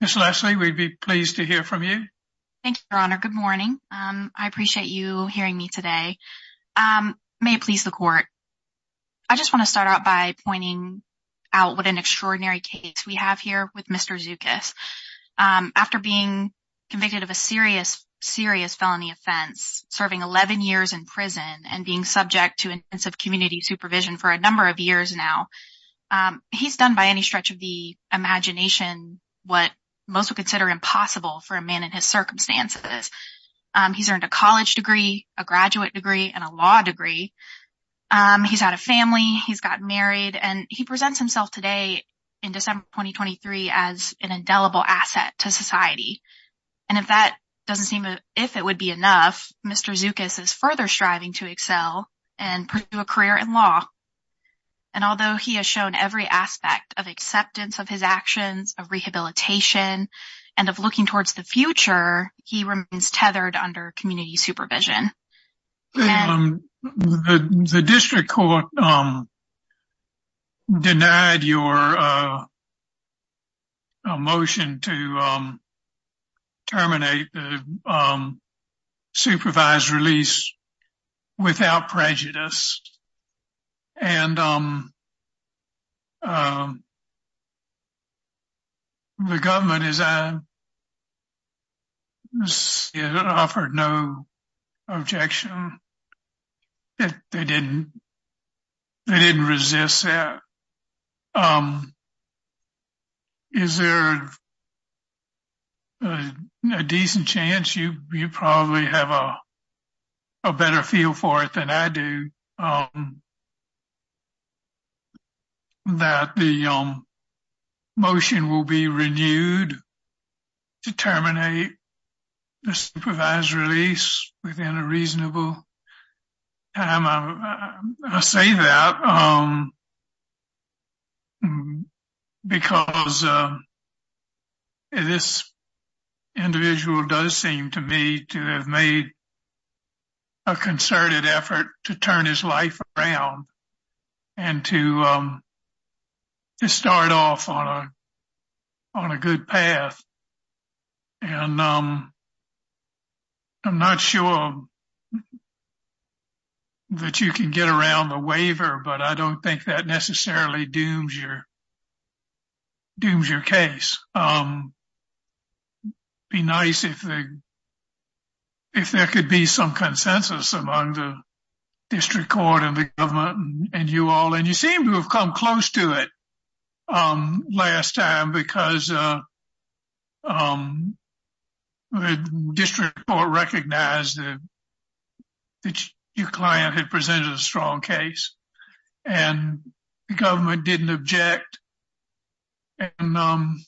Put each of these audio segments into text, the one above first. Ms. Leslie, we'd be pleased to hear from you. Thank you, Your Honor. Good morning. I appreciate you hearing me today. May it please the Court, I just want to start out by pointing out what an extraordinary case we have here with Mr. Zoukis. After being convicted of a serious felony offense, serving 11 years in prison, and being subject to intensive community supervision for a number of years now, he's done by any stretch of the imagination what most would consider impossible for a man in his circumstances. He's earned a college degree, a graduate degree, and a law degree. He's had a family, he's gotten married, and he presents himself today in December 2023 as an indelible asset to society. And if that doesn't seem, if it would be enough, Mr. Zoukis is further striving to excel and pursue a career in law. And although he has shown every aspect of acceptance of his actions, of rehabilitation, and of looking towards the future, he remains tethered under community supervision. The district court denied your motion to terminate the supervised release without prejudice. And the government offered no objection. They didn't resist that. Is there a decent chance, you probably have a better feel for it than I do, that the motion will be renewed to terminate the supervised release within a reasonable time? I say that because this individual does seem to me to have made a concerted effort to turn his life around and to start off on a good path. And I'm not sure that you can get around the waiver, but I don't think that necessarily dooms your case. Be nice if there could be some consensus among the district court and the government and you all. And you seem to have come close to it last time because the district court recognized that your client had presented a strong case and the government didn't object. And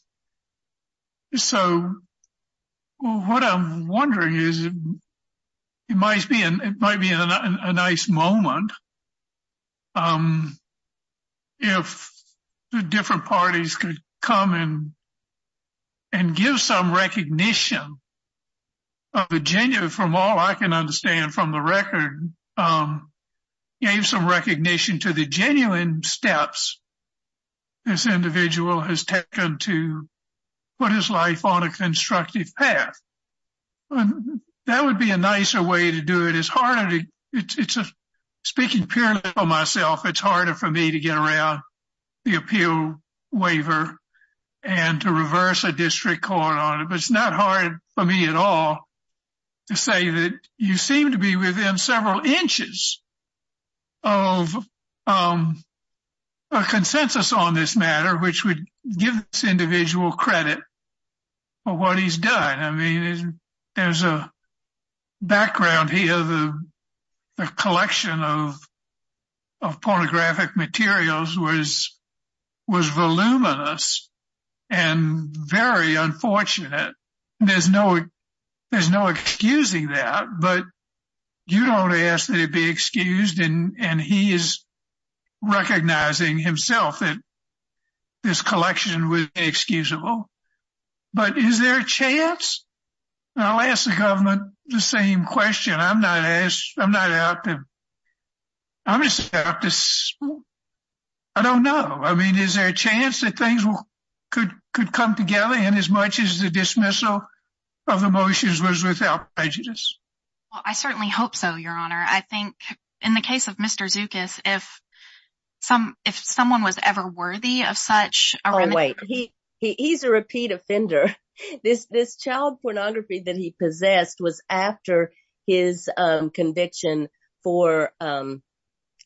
so what I'm wondering is it might be a nice moment if the different parties could come and give some recognition of Virginia from all I can to the genuine steps this individual has taken to put his life on a constructive path. That would be a nicer way to do it. Speaking purely for myself, it's harder for me to get around the appeal waiver and to reverse a district court on it. But it's not hard for me at all to say that you seem to be within several inches of a consensus on this matter, which would give this individual credit for what he's done. I mean, there's a background here. The collection of pornographic materials was voluminous and very unfortunate. There's no excusing that. But you don't ask that it be excused. And he is recognizing himself that this collection was inexcusable. But is there a chance? I'll ask the government the same question. I don't know. Is there a chance that things could come together in as much as the dismissal of the motions was without prejudice? Well, I certainly hope so, Your Honor. I think in the case of Mr. Zookas, if someone was ever worthy of such a remuneration. Oh, wait. He's a repeat offender. This child pornography that he possessed was after his conviction for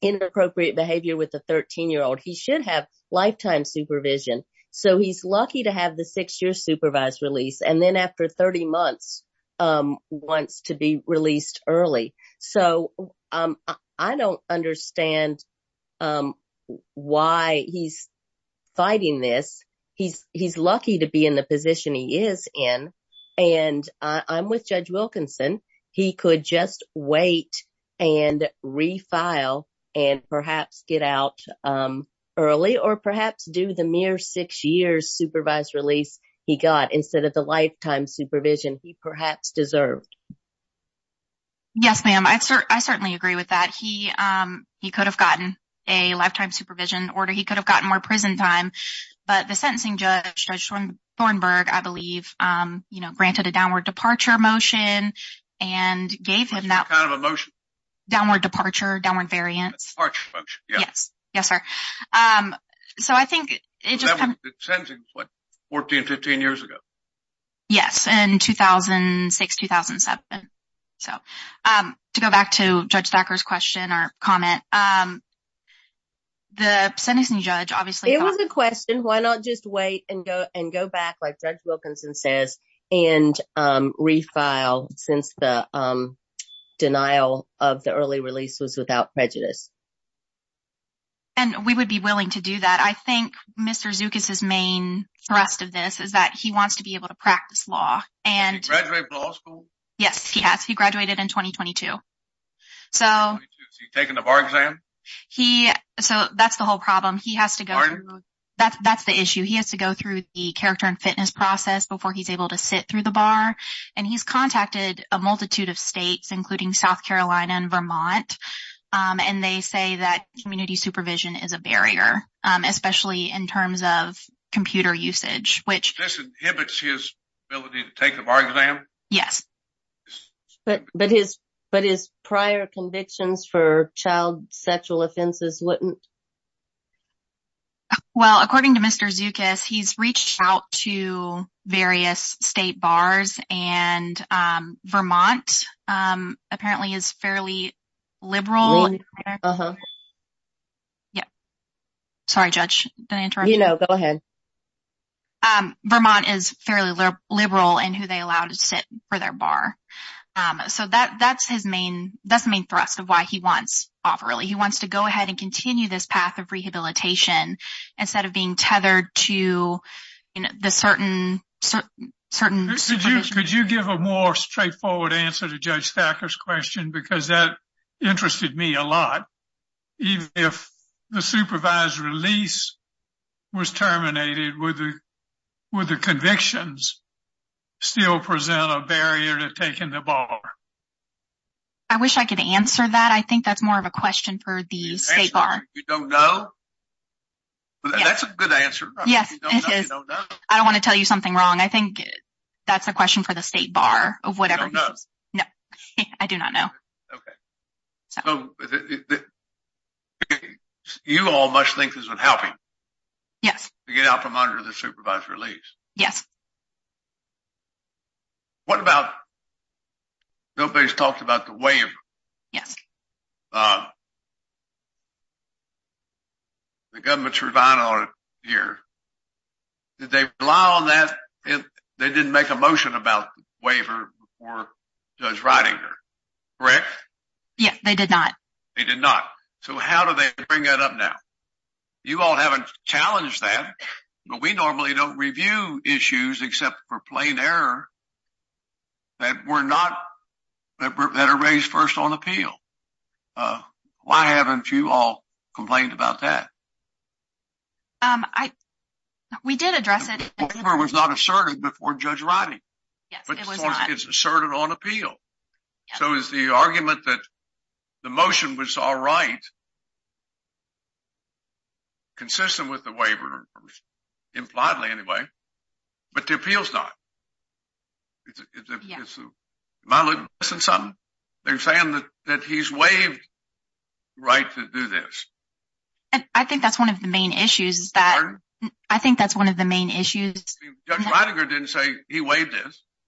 inappropriate behavior with 13-year-old. He should have lifetime supervision. So he's lucky to have the six-year supervised release. And then after 30 months, wants to be released early. So I don't understand why he's fighting this. He's lucky to be in the position he is in. And I'm with Judge Wilkinson. He could just wait and refile and perhaps get out early or perhaps do the mere six years supervised release he got instead of the lifetime supervision he perhaps deserved. Yes, ma'am. I certainly agree with that. He could have gotten a lifetime supervision order. He could have gotten more prison time. But the sentencing judge, Judge Thornburg, I believe, granted a gave him that kind of a motion, downward departure, downward variance. Yes. Yes, sir. So I think it just kind of what 14, 15 years ago. Yes. And 2006, 2007. So to go back to Judge Stacker's question or comment, the sentencing judge, obviously, it was a question, why not just wait and go back, like Judge Wilkinson says, and refile since the denial of the early release was without prejudice. And we would be willing to do that. I think Mr. Zookas' main thrust of this is that he wants to be able to practice law. Did he graduate from law school? Yes, he has. He graduated in 2022. Is he taking the bar exam? So that's the issue. He has to go through the character and fitness process before he's able to sit through the bar. And he's contacted a multitude of states, including South Carolina and Vermont. And they say that community supervision is a barrier, especially in terms of computer usage, which inhibits his ability to take the bar exam. Yes. But his prior convictions for sexual offenses wouldn't. Well, according to Mr. Zookas, he's reached out to various state bars, and Vermont apparently is fairly liberal. Sorry, Judge, did I interrupt? No, go ahead. Vermont is fairly liberal in who they allow to sit for their bar. So that's the main thrust of why he wants off early. He wants to go ahead and continue this path of rehabilitation instead of being tethered to the certain... Could you give a more straightforward answer to Judge Thacker's question? Because that interested me a lot. Even if the supervised release was terminated, would the convictions still present a barrier to taking the bar? I wish I could answer that. I think that's more of a question for the state bar. You don't know? That's a good answer. Yes, it is. I don't want to tell you something wrong. I think that's a question for the state bar of whatever it is. You don't know? No, I do not know. Okay. You all must think this would help him. Yes. To get out from under the supervised release. Yes. Okay. What about... Nobody's talked about the waiver. Yes. The government's relied on it here. Did they rely on that? They didn't make a motion about waiver before Judge Reidinger, correct? Yes, they did not. They did not. So how do they bring that up now? You all haven't challenged that, but we normally don't review issues except for plain error that are raised first on appeal. Why haven't you all complained about that? We did address it. The waiver was not asserted before Judge Reiding. Yes, it was not. It's asserted on appeal. So is the argument that the motion was all right, consistent with the waiver, impliedly anyway, but the appeal's not? Am I missing something? They're saying that he's waived the right to do this. I think that's one of the main issues. Pardon? I think that's one of the main issues. Judge Reidinger didn't say he waived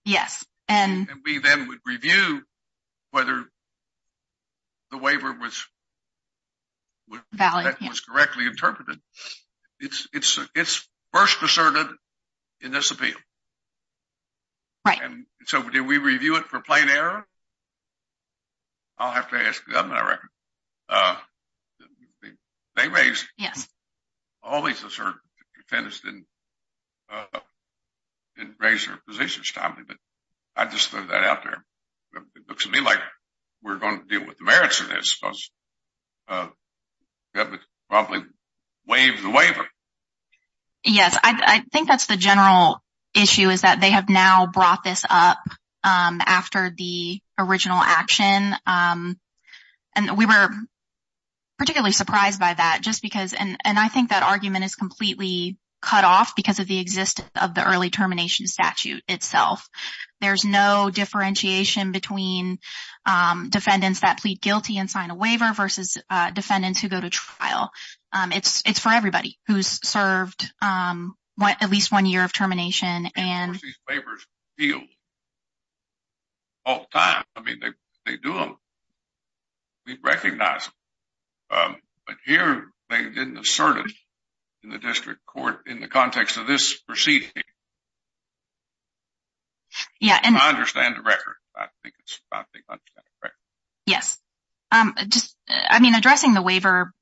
this. And we then would review whether the waiver was correctly interpreted. It's first asserted in this appeal. Right. And so did we review it for plain error? I'll have to ask the government, I reckon. They raised it. Yes. All these asserted defendants didn't raise their positions timely, but I just threw that out there. It looks to me like we're going to deal with the merits of this because the government probably waived the waiver. Yes, I think that's the general issue is that have now brought this up after the original action. And we were particularly surprised by that. And I think that argument is completely cut off because of the existence of the early termination statute itself. There's no differentiation between defendants that plead guilty and sign a waiver versus defendants who go to trial. It's for everybody who's served at least one year of termination. And of course, these waivers are appealed all the time. I mean, they do them. We recognize them. But here, they didn't assert it in the district court in the context of this proceeding. Yeah. And I understand the record. I think it's about the understanding of the record. Yes. I mean, addressing the waiver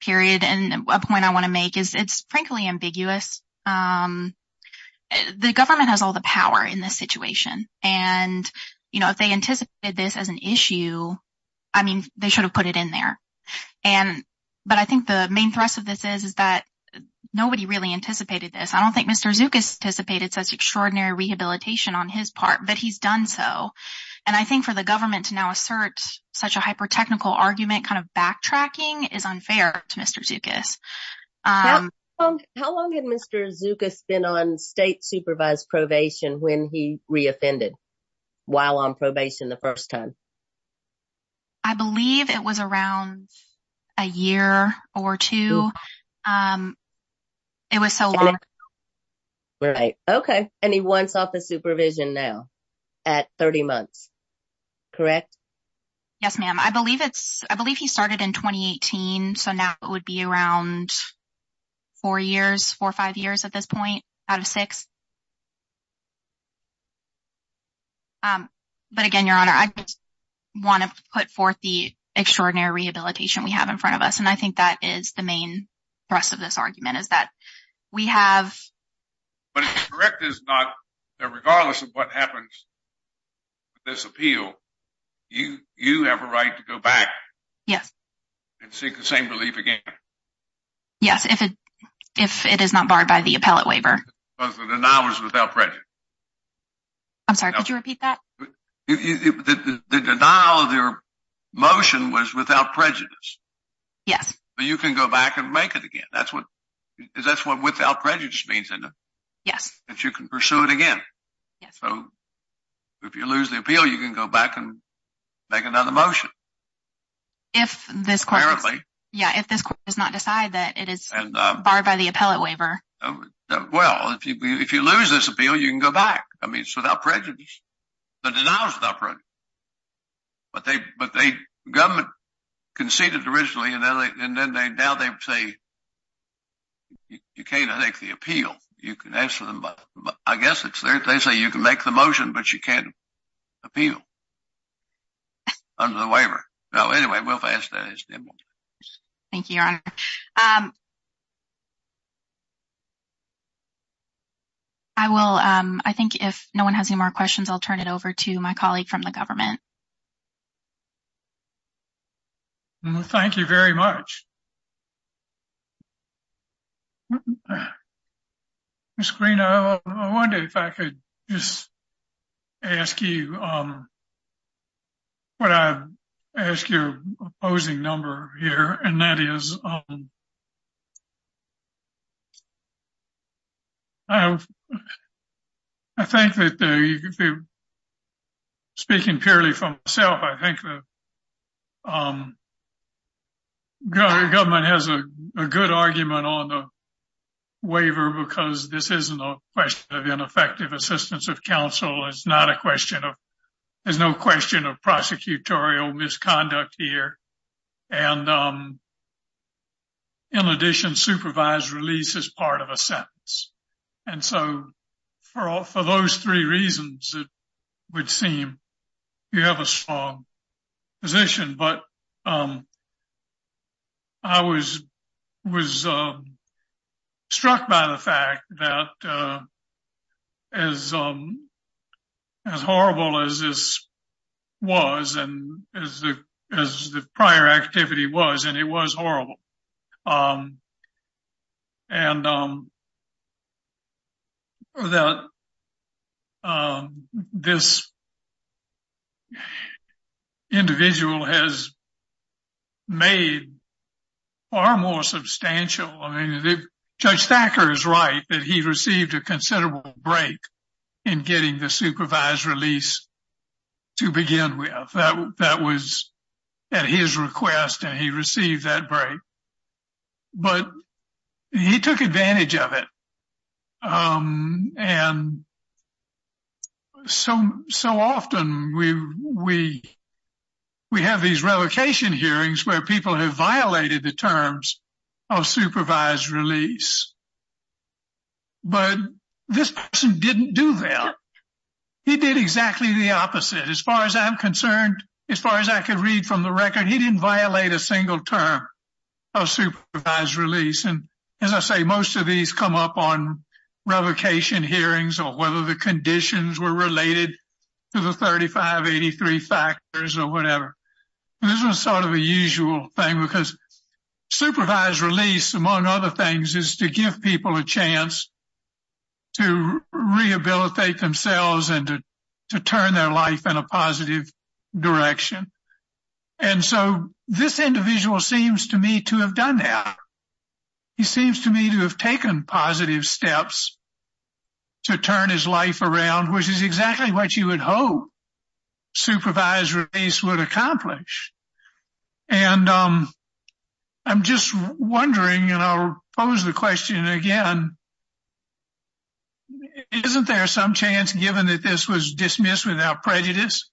period and a point I want to make is it's frankly ambiguous. The government has all the power in this situation. And if they anticipated this as an issue, I mean, they should have put it in there. But I think the main thrust of this is that nobody really anticipated this. I don't think Mr. Zookas anticipated such extraordinary rehabilitation on his part, but he's done so. And I think for the government to now assert such a hyper-technical argument kind of backtracking is unfair to Mr. Zookas. How long had Mr. Zookas been on state supervised probation when he re-offended while on probation the first time? I believe it was around a year or two. It was so long ago. Right. Okay. And he wants office supervision now at 30 months, correct? Yes, ma'am. I believe he started in 2018. So now it would be around four years, four or five years at this point out of six. But again, Your Honor, I just want to put forth the extraordinary rehabilitation we have in front of us. And I think that is the main thrust of this argument is that we have- But it's correct that regardless of what happens with this appeal, you have a right to go back and seek the same relief again. Yes, if it is not barred by the appellate waiver. Because the denial was without prejudice. I'm sorry, could you repeat that? The denial of their motion was without prejudice. Yes. So you can go back and make it again. That's what without prejudice means, isn't it? Yes. If you can pursue it again. Yes. So if you lose the appeal, you can go back and make another motion. If this court- Apparently. Yeah, if this court does not decide that it is barred by the appellate waiver. Well, if you lose this appeal, you can go back. I mean, it's without prejudice. The denial is without prejudice. But the government conceded originally, and then now they say you can't make the appeal. You can ask them, but I guess it's- They say you can make the motion, but you can't appeal under the waiver. No, anyway, we'll pass that. Thank you, Your Honor. I will- I think if no one has any more questions, I'll turn it over to my colleague from the government. Well, thank you very much. Ms. Green, I wonder if I could just ask you what I- ask your opposing number here, and that is- I think that the- Speaking purely for myself, I think the government has a good argument on the waiver, because this isn't a question of ineffective assistance of counsel. It's not a question of ineffective assistance of counsel. It's a question of whether or not it has release as part of a sentence. And so, for all- for those three reasons, it would seem you have a strong position. But I was- was struck by the fact that as- as horrible as this was and as the- as the and that this individual has made far more substantial- I mean, Judge Thacker is right, that he received a considerable break in getting the supervised release to begin with. That was at his request, and he received that break. But he took advantage of it. And so- so often, we- we- we have these revocation hearings where people have violated the terms of supervised release. But this person didn't do that. He did exactly the opposite. As far as I'm concerned, as far as I could read from the record, he didn't violate a single term of supervised release. And as I say, most of these come up on revocation hearings or whether the conditions were related to the 3583 factors or whatever. This was sort of a usual thing, because supervised release, among other things, is to give people a chance to rehabilitate themselves and to turn their life in a positive direction. And so, this individual seems to me to have done that. He seems to me to have taken positive steps to turn his life around, which is exactly what you would hope supervised release would accomplish. And I'm just wondering, and I'll pose the question again, isn't there some chance, given that this was dismissed without prejudice,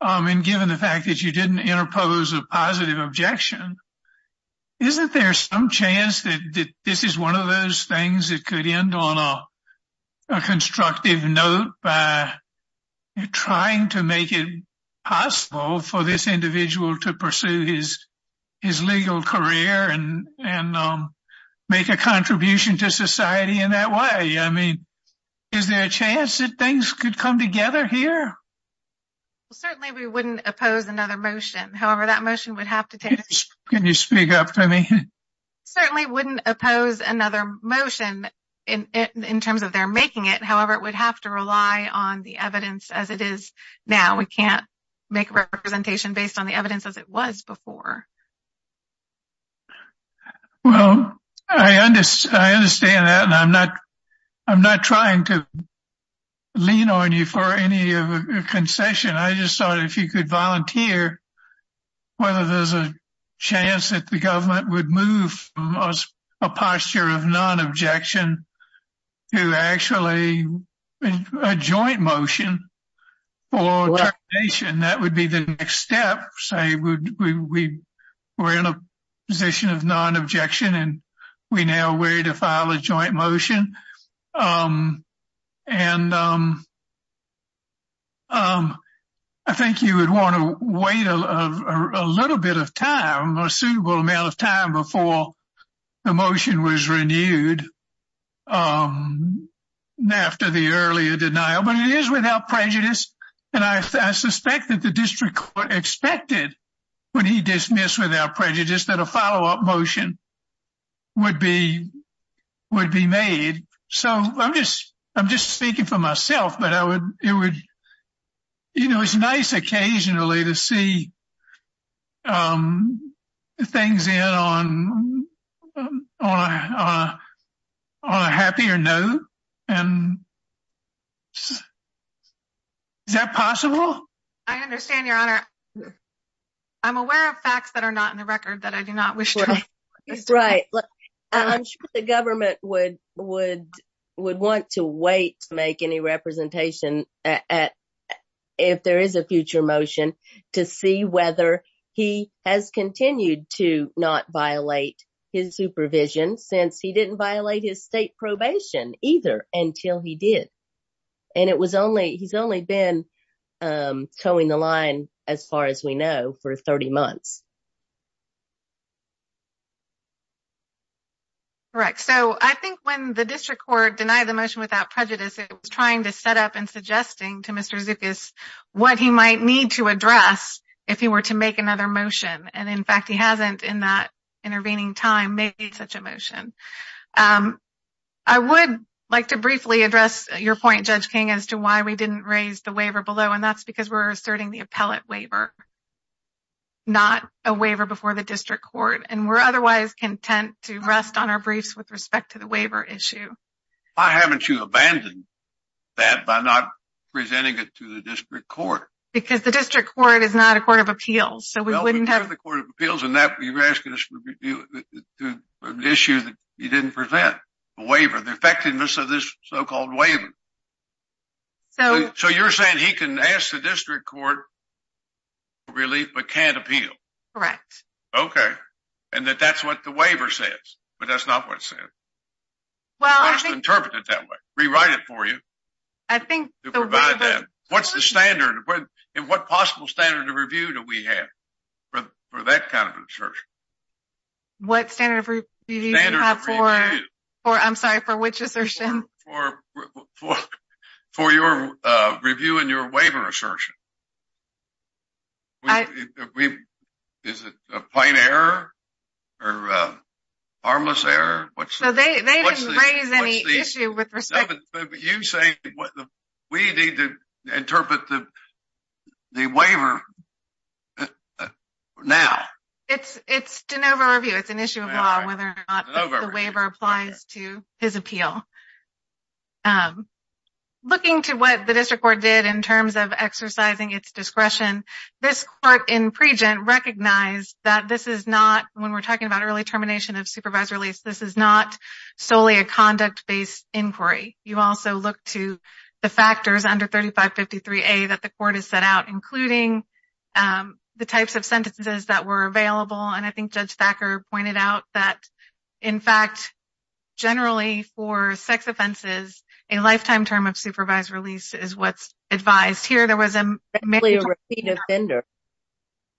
and given the fact that you didn't interpose a positive objection, isn't there some chance that this is one of those things that could end on a constructive note by trying to make it possible for this individual to pursue his legal career and make a contribution to society in that way? I mean, is there a chance that things could come together here? Well, certainly, we wouldn't oppose another motion. However, that motion would have to take— Can you speak up for me? Certainly wouldn't oppose another motion in terms of their making it. However, it would have to rely on the evidence as it is now. We can't make a representation based on the evidence as it was before. Well, I understand that, and I'm not trying to lean on you for any concession. I just thought if you could volunteer, whether there's a chance that the government would move a posture of non-objection to actually a joint motion for termination, that would be the next step. Say we're in a position of non-objection, and we now wait to file a joint motion. I think you would want to wait a little bit of time, a suitable amount of time, before the motion was renewed after the earlier denial. But it is without prejudice, and I suspect that the district court expected when he dismissed without prejudice that a follow-up motion would be made. So I'm just speaking for myself, but it's nice occasionally to see things in on a happier note. Is that possible? I understand, Your Honor. I'm aware of facts that are not in the record that I do not wish to- Right. I'm sure the government would want to wait to make any representation at, if there is a future motion, to see whether he has continued to not violate his supervision since he didn't violate his state probation either until he did. And it was only, he's only been toeing the line, as far as we know, for 30 months. Correct. So I think when the district court denied the motion without prejudice, it was trying to set up and suggesting to Mr. Zookas what he might need to address if he were to make another motion. And in fact, he hasn't, in that intervening time, made such a motion. I would like to briefly address your point, Judge King, as to why we didn't raise the waiver below, and that's because we're asserting the appellate waiver, not a waiver before the district court. And we're otherwise content to rest on our briefs with respect to the waiver issue. Why haven't you abandoned that by not presenting it to the district court? Because the district court is not a court of appeals, so we wouldn't have- No, we are the court of appeals, and you're asking us to review the issue that you didn't present, the waiver, the effectiveness of this so-called waiver. So you're saying he can ask the district court for relief but can't appeal? Correct. Okay. And that that's what the waiver says, but that's not what it says? Well, I think- You can't just interpret it that way. Rewrite it for you. I think the waiver- What's the standard, and what possible standard of review do we have for that kind of assertion? What standard of review do you have for- Standard of review. For, I'm sorry, for which assertion? For your review and your waiver assertion. Is it a plain error or a harmless error? So they didn't raise any issue with respect- No, but you're saying we need to interpret the waiver now. It's de novo review. It's an issue of law whether or not the waiver applies to his appeal. Looking to what the district court did in terms of exercising its discretion, this court in Pregent recognized that this is not, when we're talking about early termination of supervised release, this is not solely a conduct-based inquiry. You also look to the factors under 3553A that the court has set out, including the types of sentences that were available. And I think Judge Thacker pointed out that, in fact, generally for sex offenses, a lifetime term of supervised release is what's advised. Here there was a- Basically a repeat offender.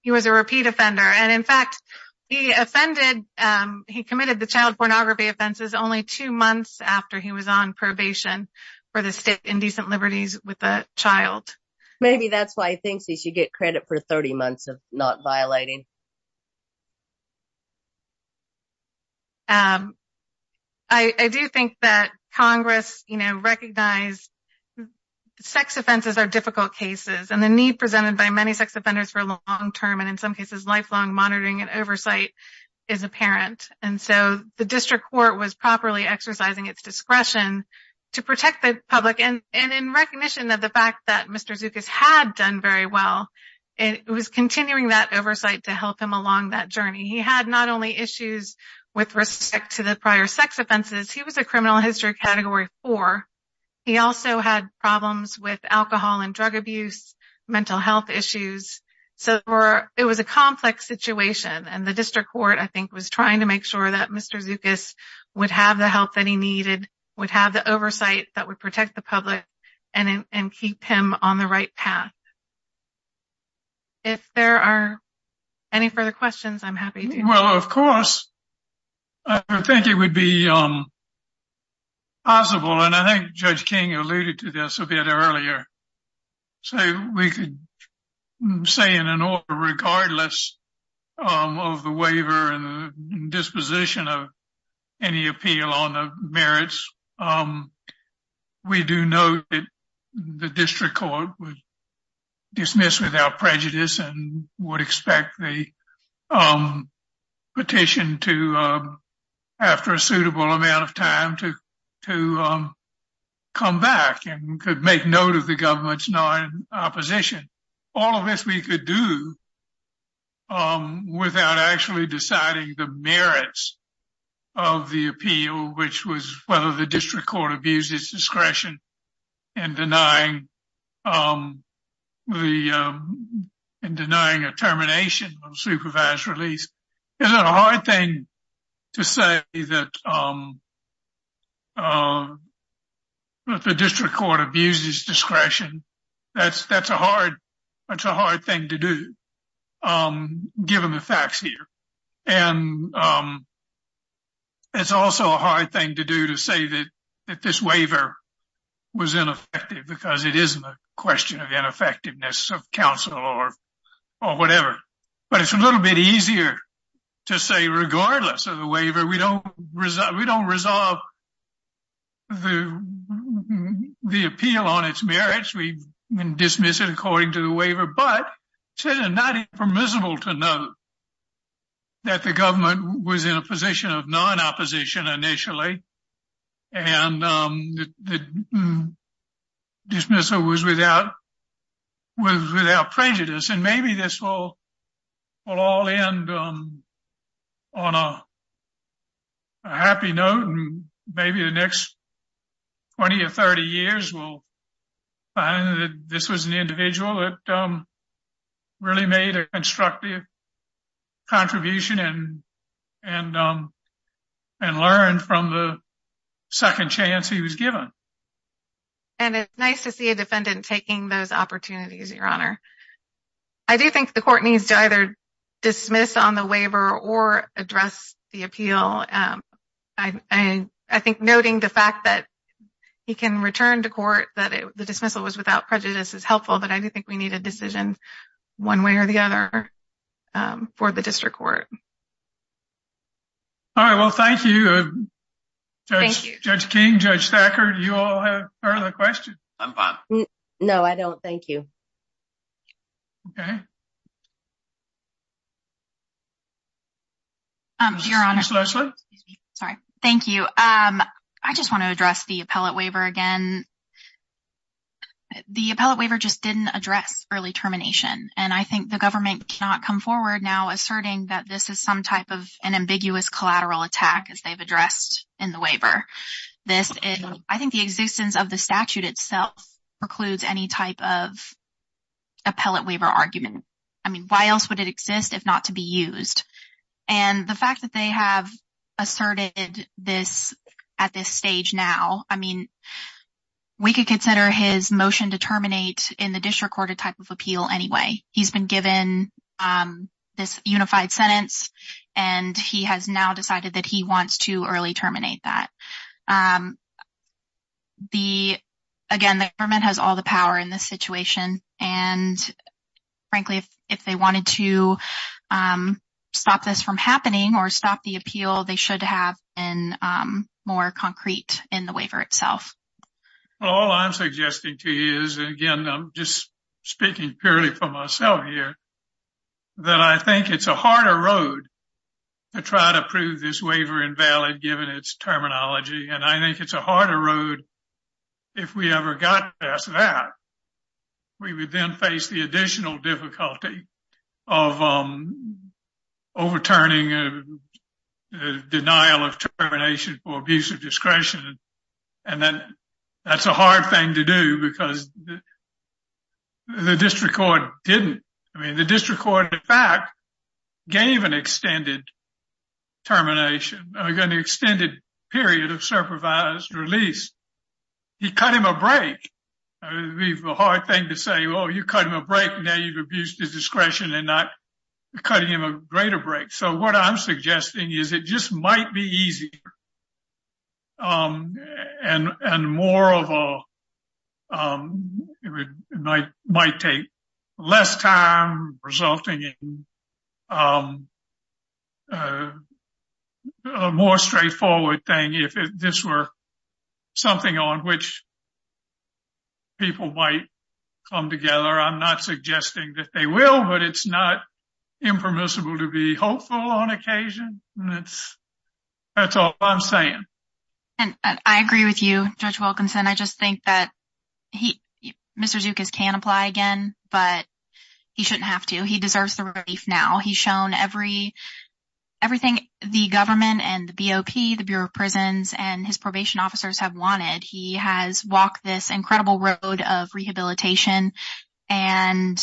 He was a repeat offender. And in fact, he offended, he committed the child pornography offenses only two months after he was on probation for the state indecent liberties with a child. Maybe that's why he thinks he should get credit for 30 months of not violating. I do think that Congress, you know, recognized sex offenses are difficult cases and the need by many sex offenders for long-term and in some cases lifelong monitoring and oversight is apparent. And so the district court was properly exercising its discretion to protect the public. And in recognition of the fact that Mr. Zookas had done very well, it was continuing that oversight to help him along that journey. He had not only issues with respect to the prior sex offenses, he was a criminal history category four. He also had problems with alcohol and drug abuse, mental health issues. So it was a complex situation. And the district court, I think, was trying to make sure that Mr. Zookas would have the help that he needed, would have the oversight that would protect the public and keep him on the right path. If there are any further questions, I'm happy to- I think it would be possible, and I think Judge King alluded to this a bit earlier, so we could say in an order, regardless of the waiver and the disposition of any appeal on the merits, we do know that the district court would dismiss without prejudice and would expect the after a suitable amount of time to come back and could make note of the government's non-opposition. All of this we could do without actually deciding the merits of the appeal, which was whether the district court abused its discretion in denying a termination of supervised release. Isn't it a hard thing to say that the district court abused its discretion? That's a hard thing to do, given the facts here. And it's also a hard thing to do to say that this waiver was ineffective because it isn't a question of ineffectiveness of counsel or whatever. But it's a little bit easier to say, regardless of the waiver, we don't resolve the appeal on its merits. We dismiss it according to the waiver, but it's not impermissible to know that the government was in a position of non-opposition initially and the dismissal was without prejudice. And maybe this will all end on a happy note, and maybe the next 20 or 30 years we'll find that this was an individual that really made a constructive contribution and learned from the second chance he was given. And it's nice to see a defendant taking those opportunities, Your Honor. I do think the court needs to either dismiss on the waiver or address the appeal. I think noting the fact that he can return to court that the dismissal was without prejudice is helpful, but I do think we need a decision one way or the other for the district court. All right. Well, thank you, Judge King, Judge Thacker. Do you all have further questions? No, I don't. Thank you. Okay. Sorry. Thank you. I just want to address the appellate waiver again. The appellate waiver just didn't address early termination, and I think the government cannot come forward now asserting that this is some type of an ambiguous collateral attack, as they've addressed in the waiver. I think the existence of the statute itself precludes any type of appellate waiver argument. I mean, why else would it exist if not to be used? And the fact that they have asserted at this stage now, I mean, we could consider his motion to terminate in the district court a type of appeal anyway. He's been given this unified sentence, and he has now decided that he wants to early terminate that. Again, the government has the power in this situation, and frankly, if they wanted to stop this from happening, or stop the appeal, they should have been more concrete in the waiver itself. Well, all I'm suggesting to you is, again, I'm just speaking purely for myself here, that I think it's a harder road to try to prove this waiver invalid given its terminology, and I think it's a harder road if we ever got past that. We would then face the additional difficulty of overturning a denial of termination for abuse of discretion, and that's a hard thing to do because the district court didn't. I mean, the district court, in fact, gave an extended termination, an extended period of supervised release. He cut him a break. It'd be a hard thing to say, well, you cut him a break, and now you've abused his discretion and not cutting him a greater break. So what I'm suggesting is it just might be easier, and more of a, it might take less time resulting in a more straightforward thing if this were something on which people might come together. I'm not suggesting that they will, but it's not impermissible to be hopeful on occasion. That's all I'm saying. And I agree with you, Judge Wilkinson. I just think that Mr. Zucas can apply again, but he shouldn't have to. He deserves the relief now. He's shown everything the government and the BOP, the Bureau of Prisons, and his probation officers have wanted. He has walked this incredible road of rehabilitation. And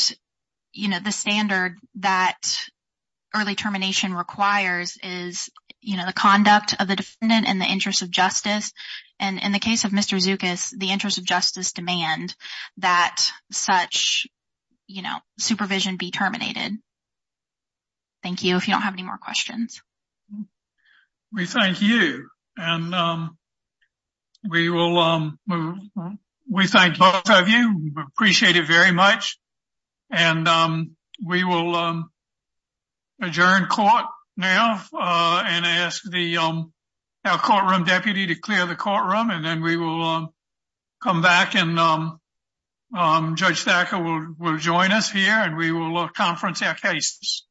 the standard that early termination requires is the conduct of the defendant in the interest of justice. And in the case of Mr. Zucas, the interest of justice demand that such supervision be terminated. Thank you. If you don't have any more questions. We thank you. And we thank both of you. We appreciate it very much. And we will adjourn court now and ask our courtroom deputy to clear the courtroom. And then we will come back and Judge Thacker will join us here and we will conference our cases. Thank you.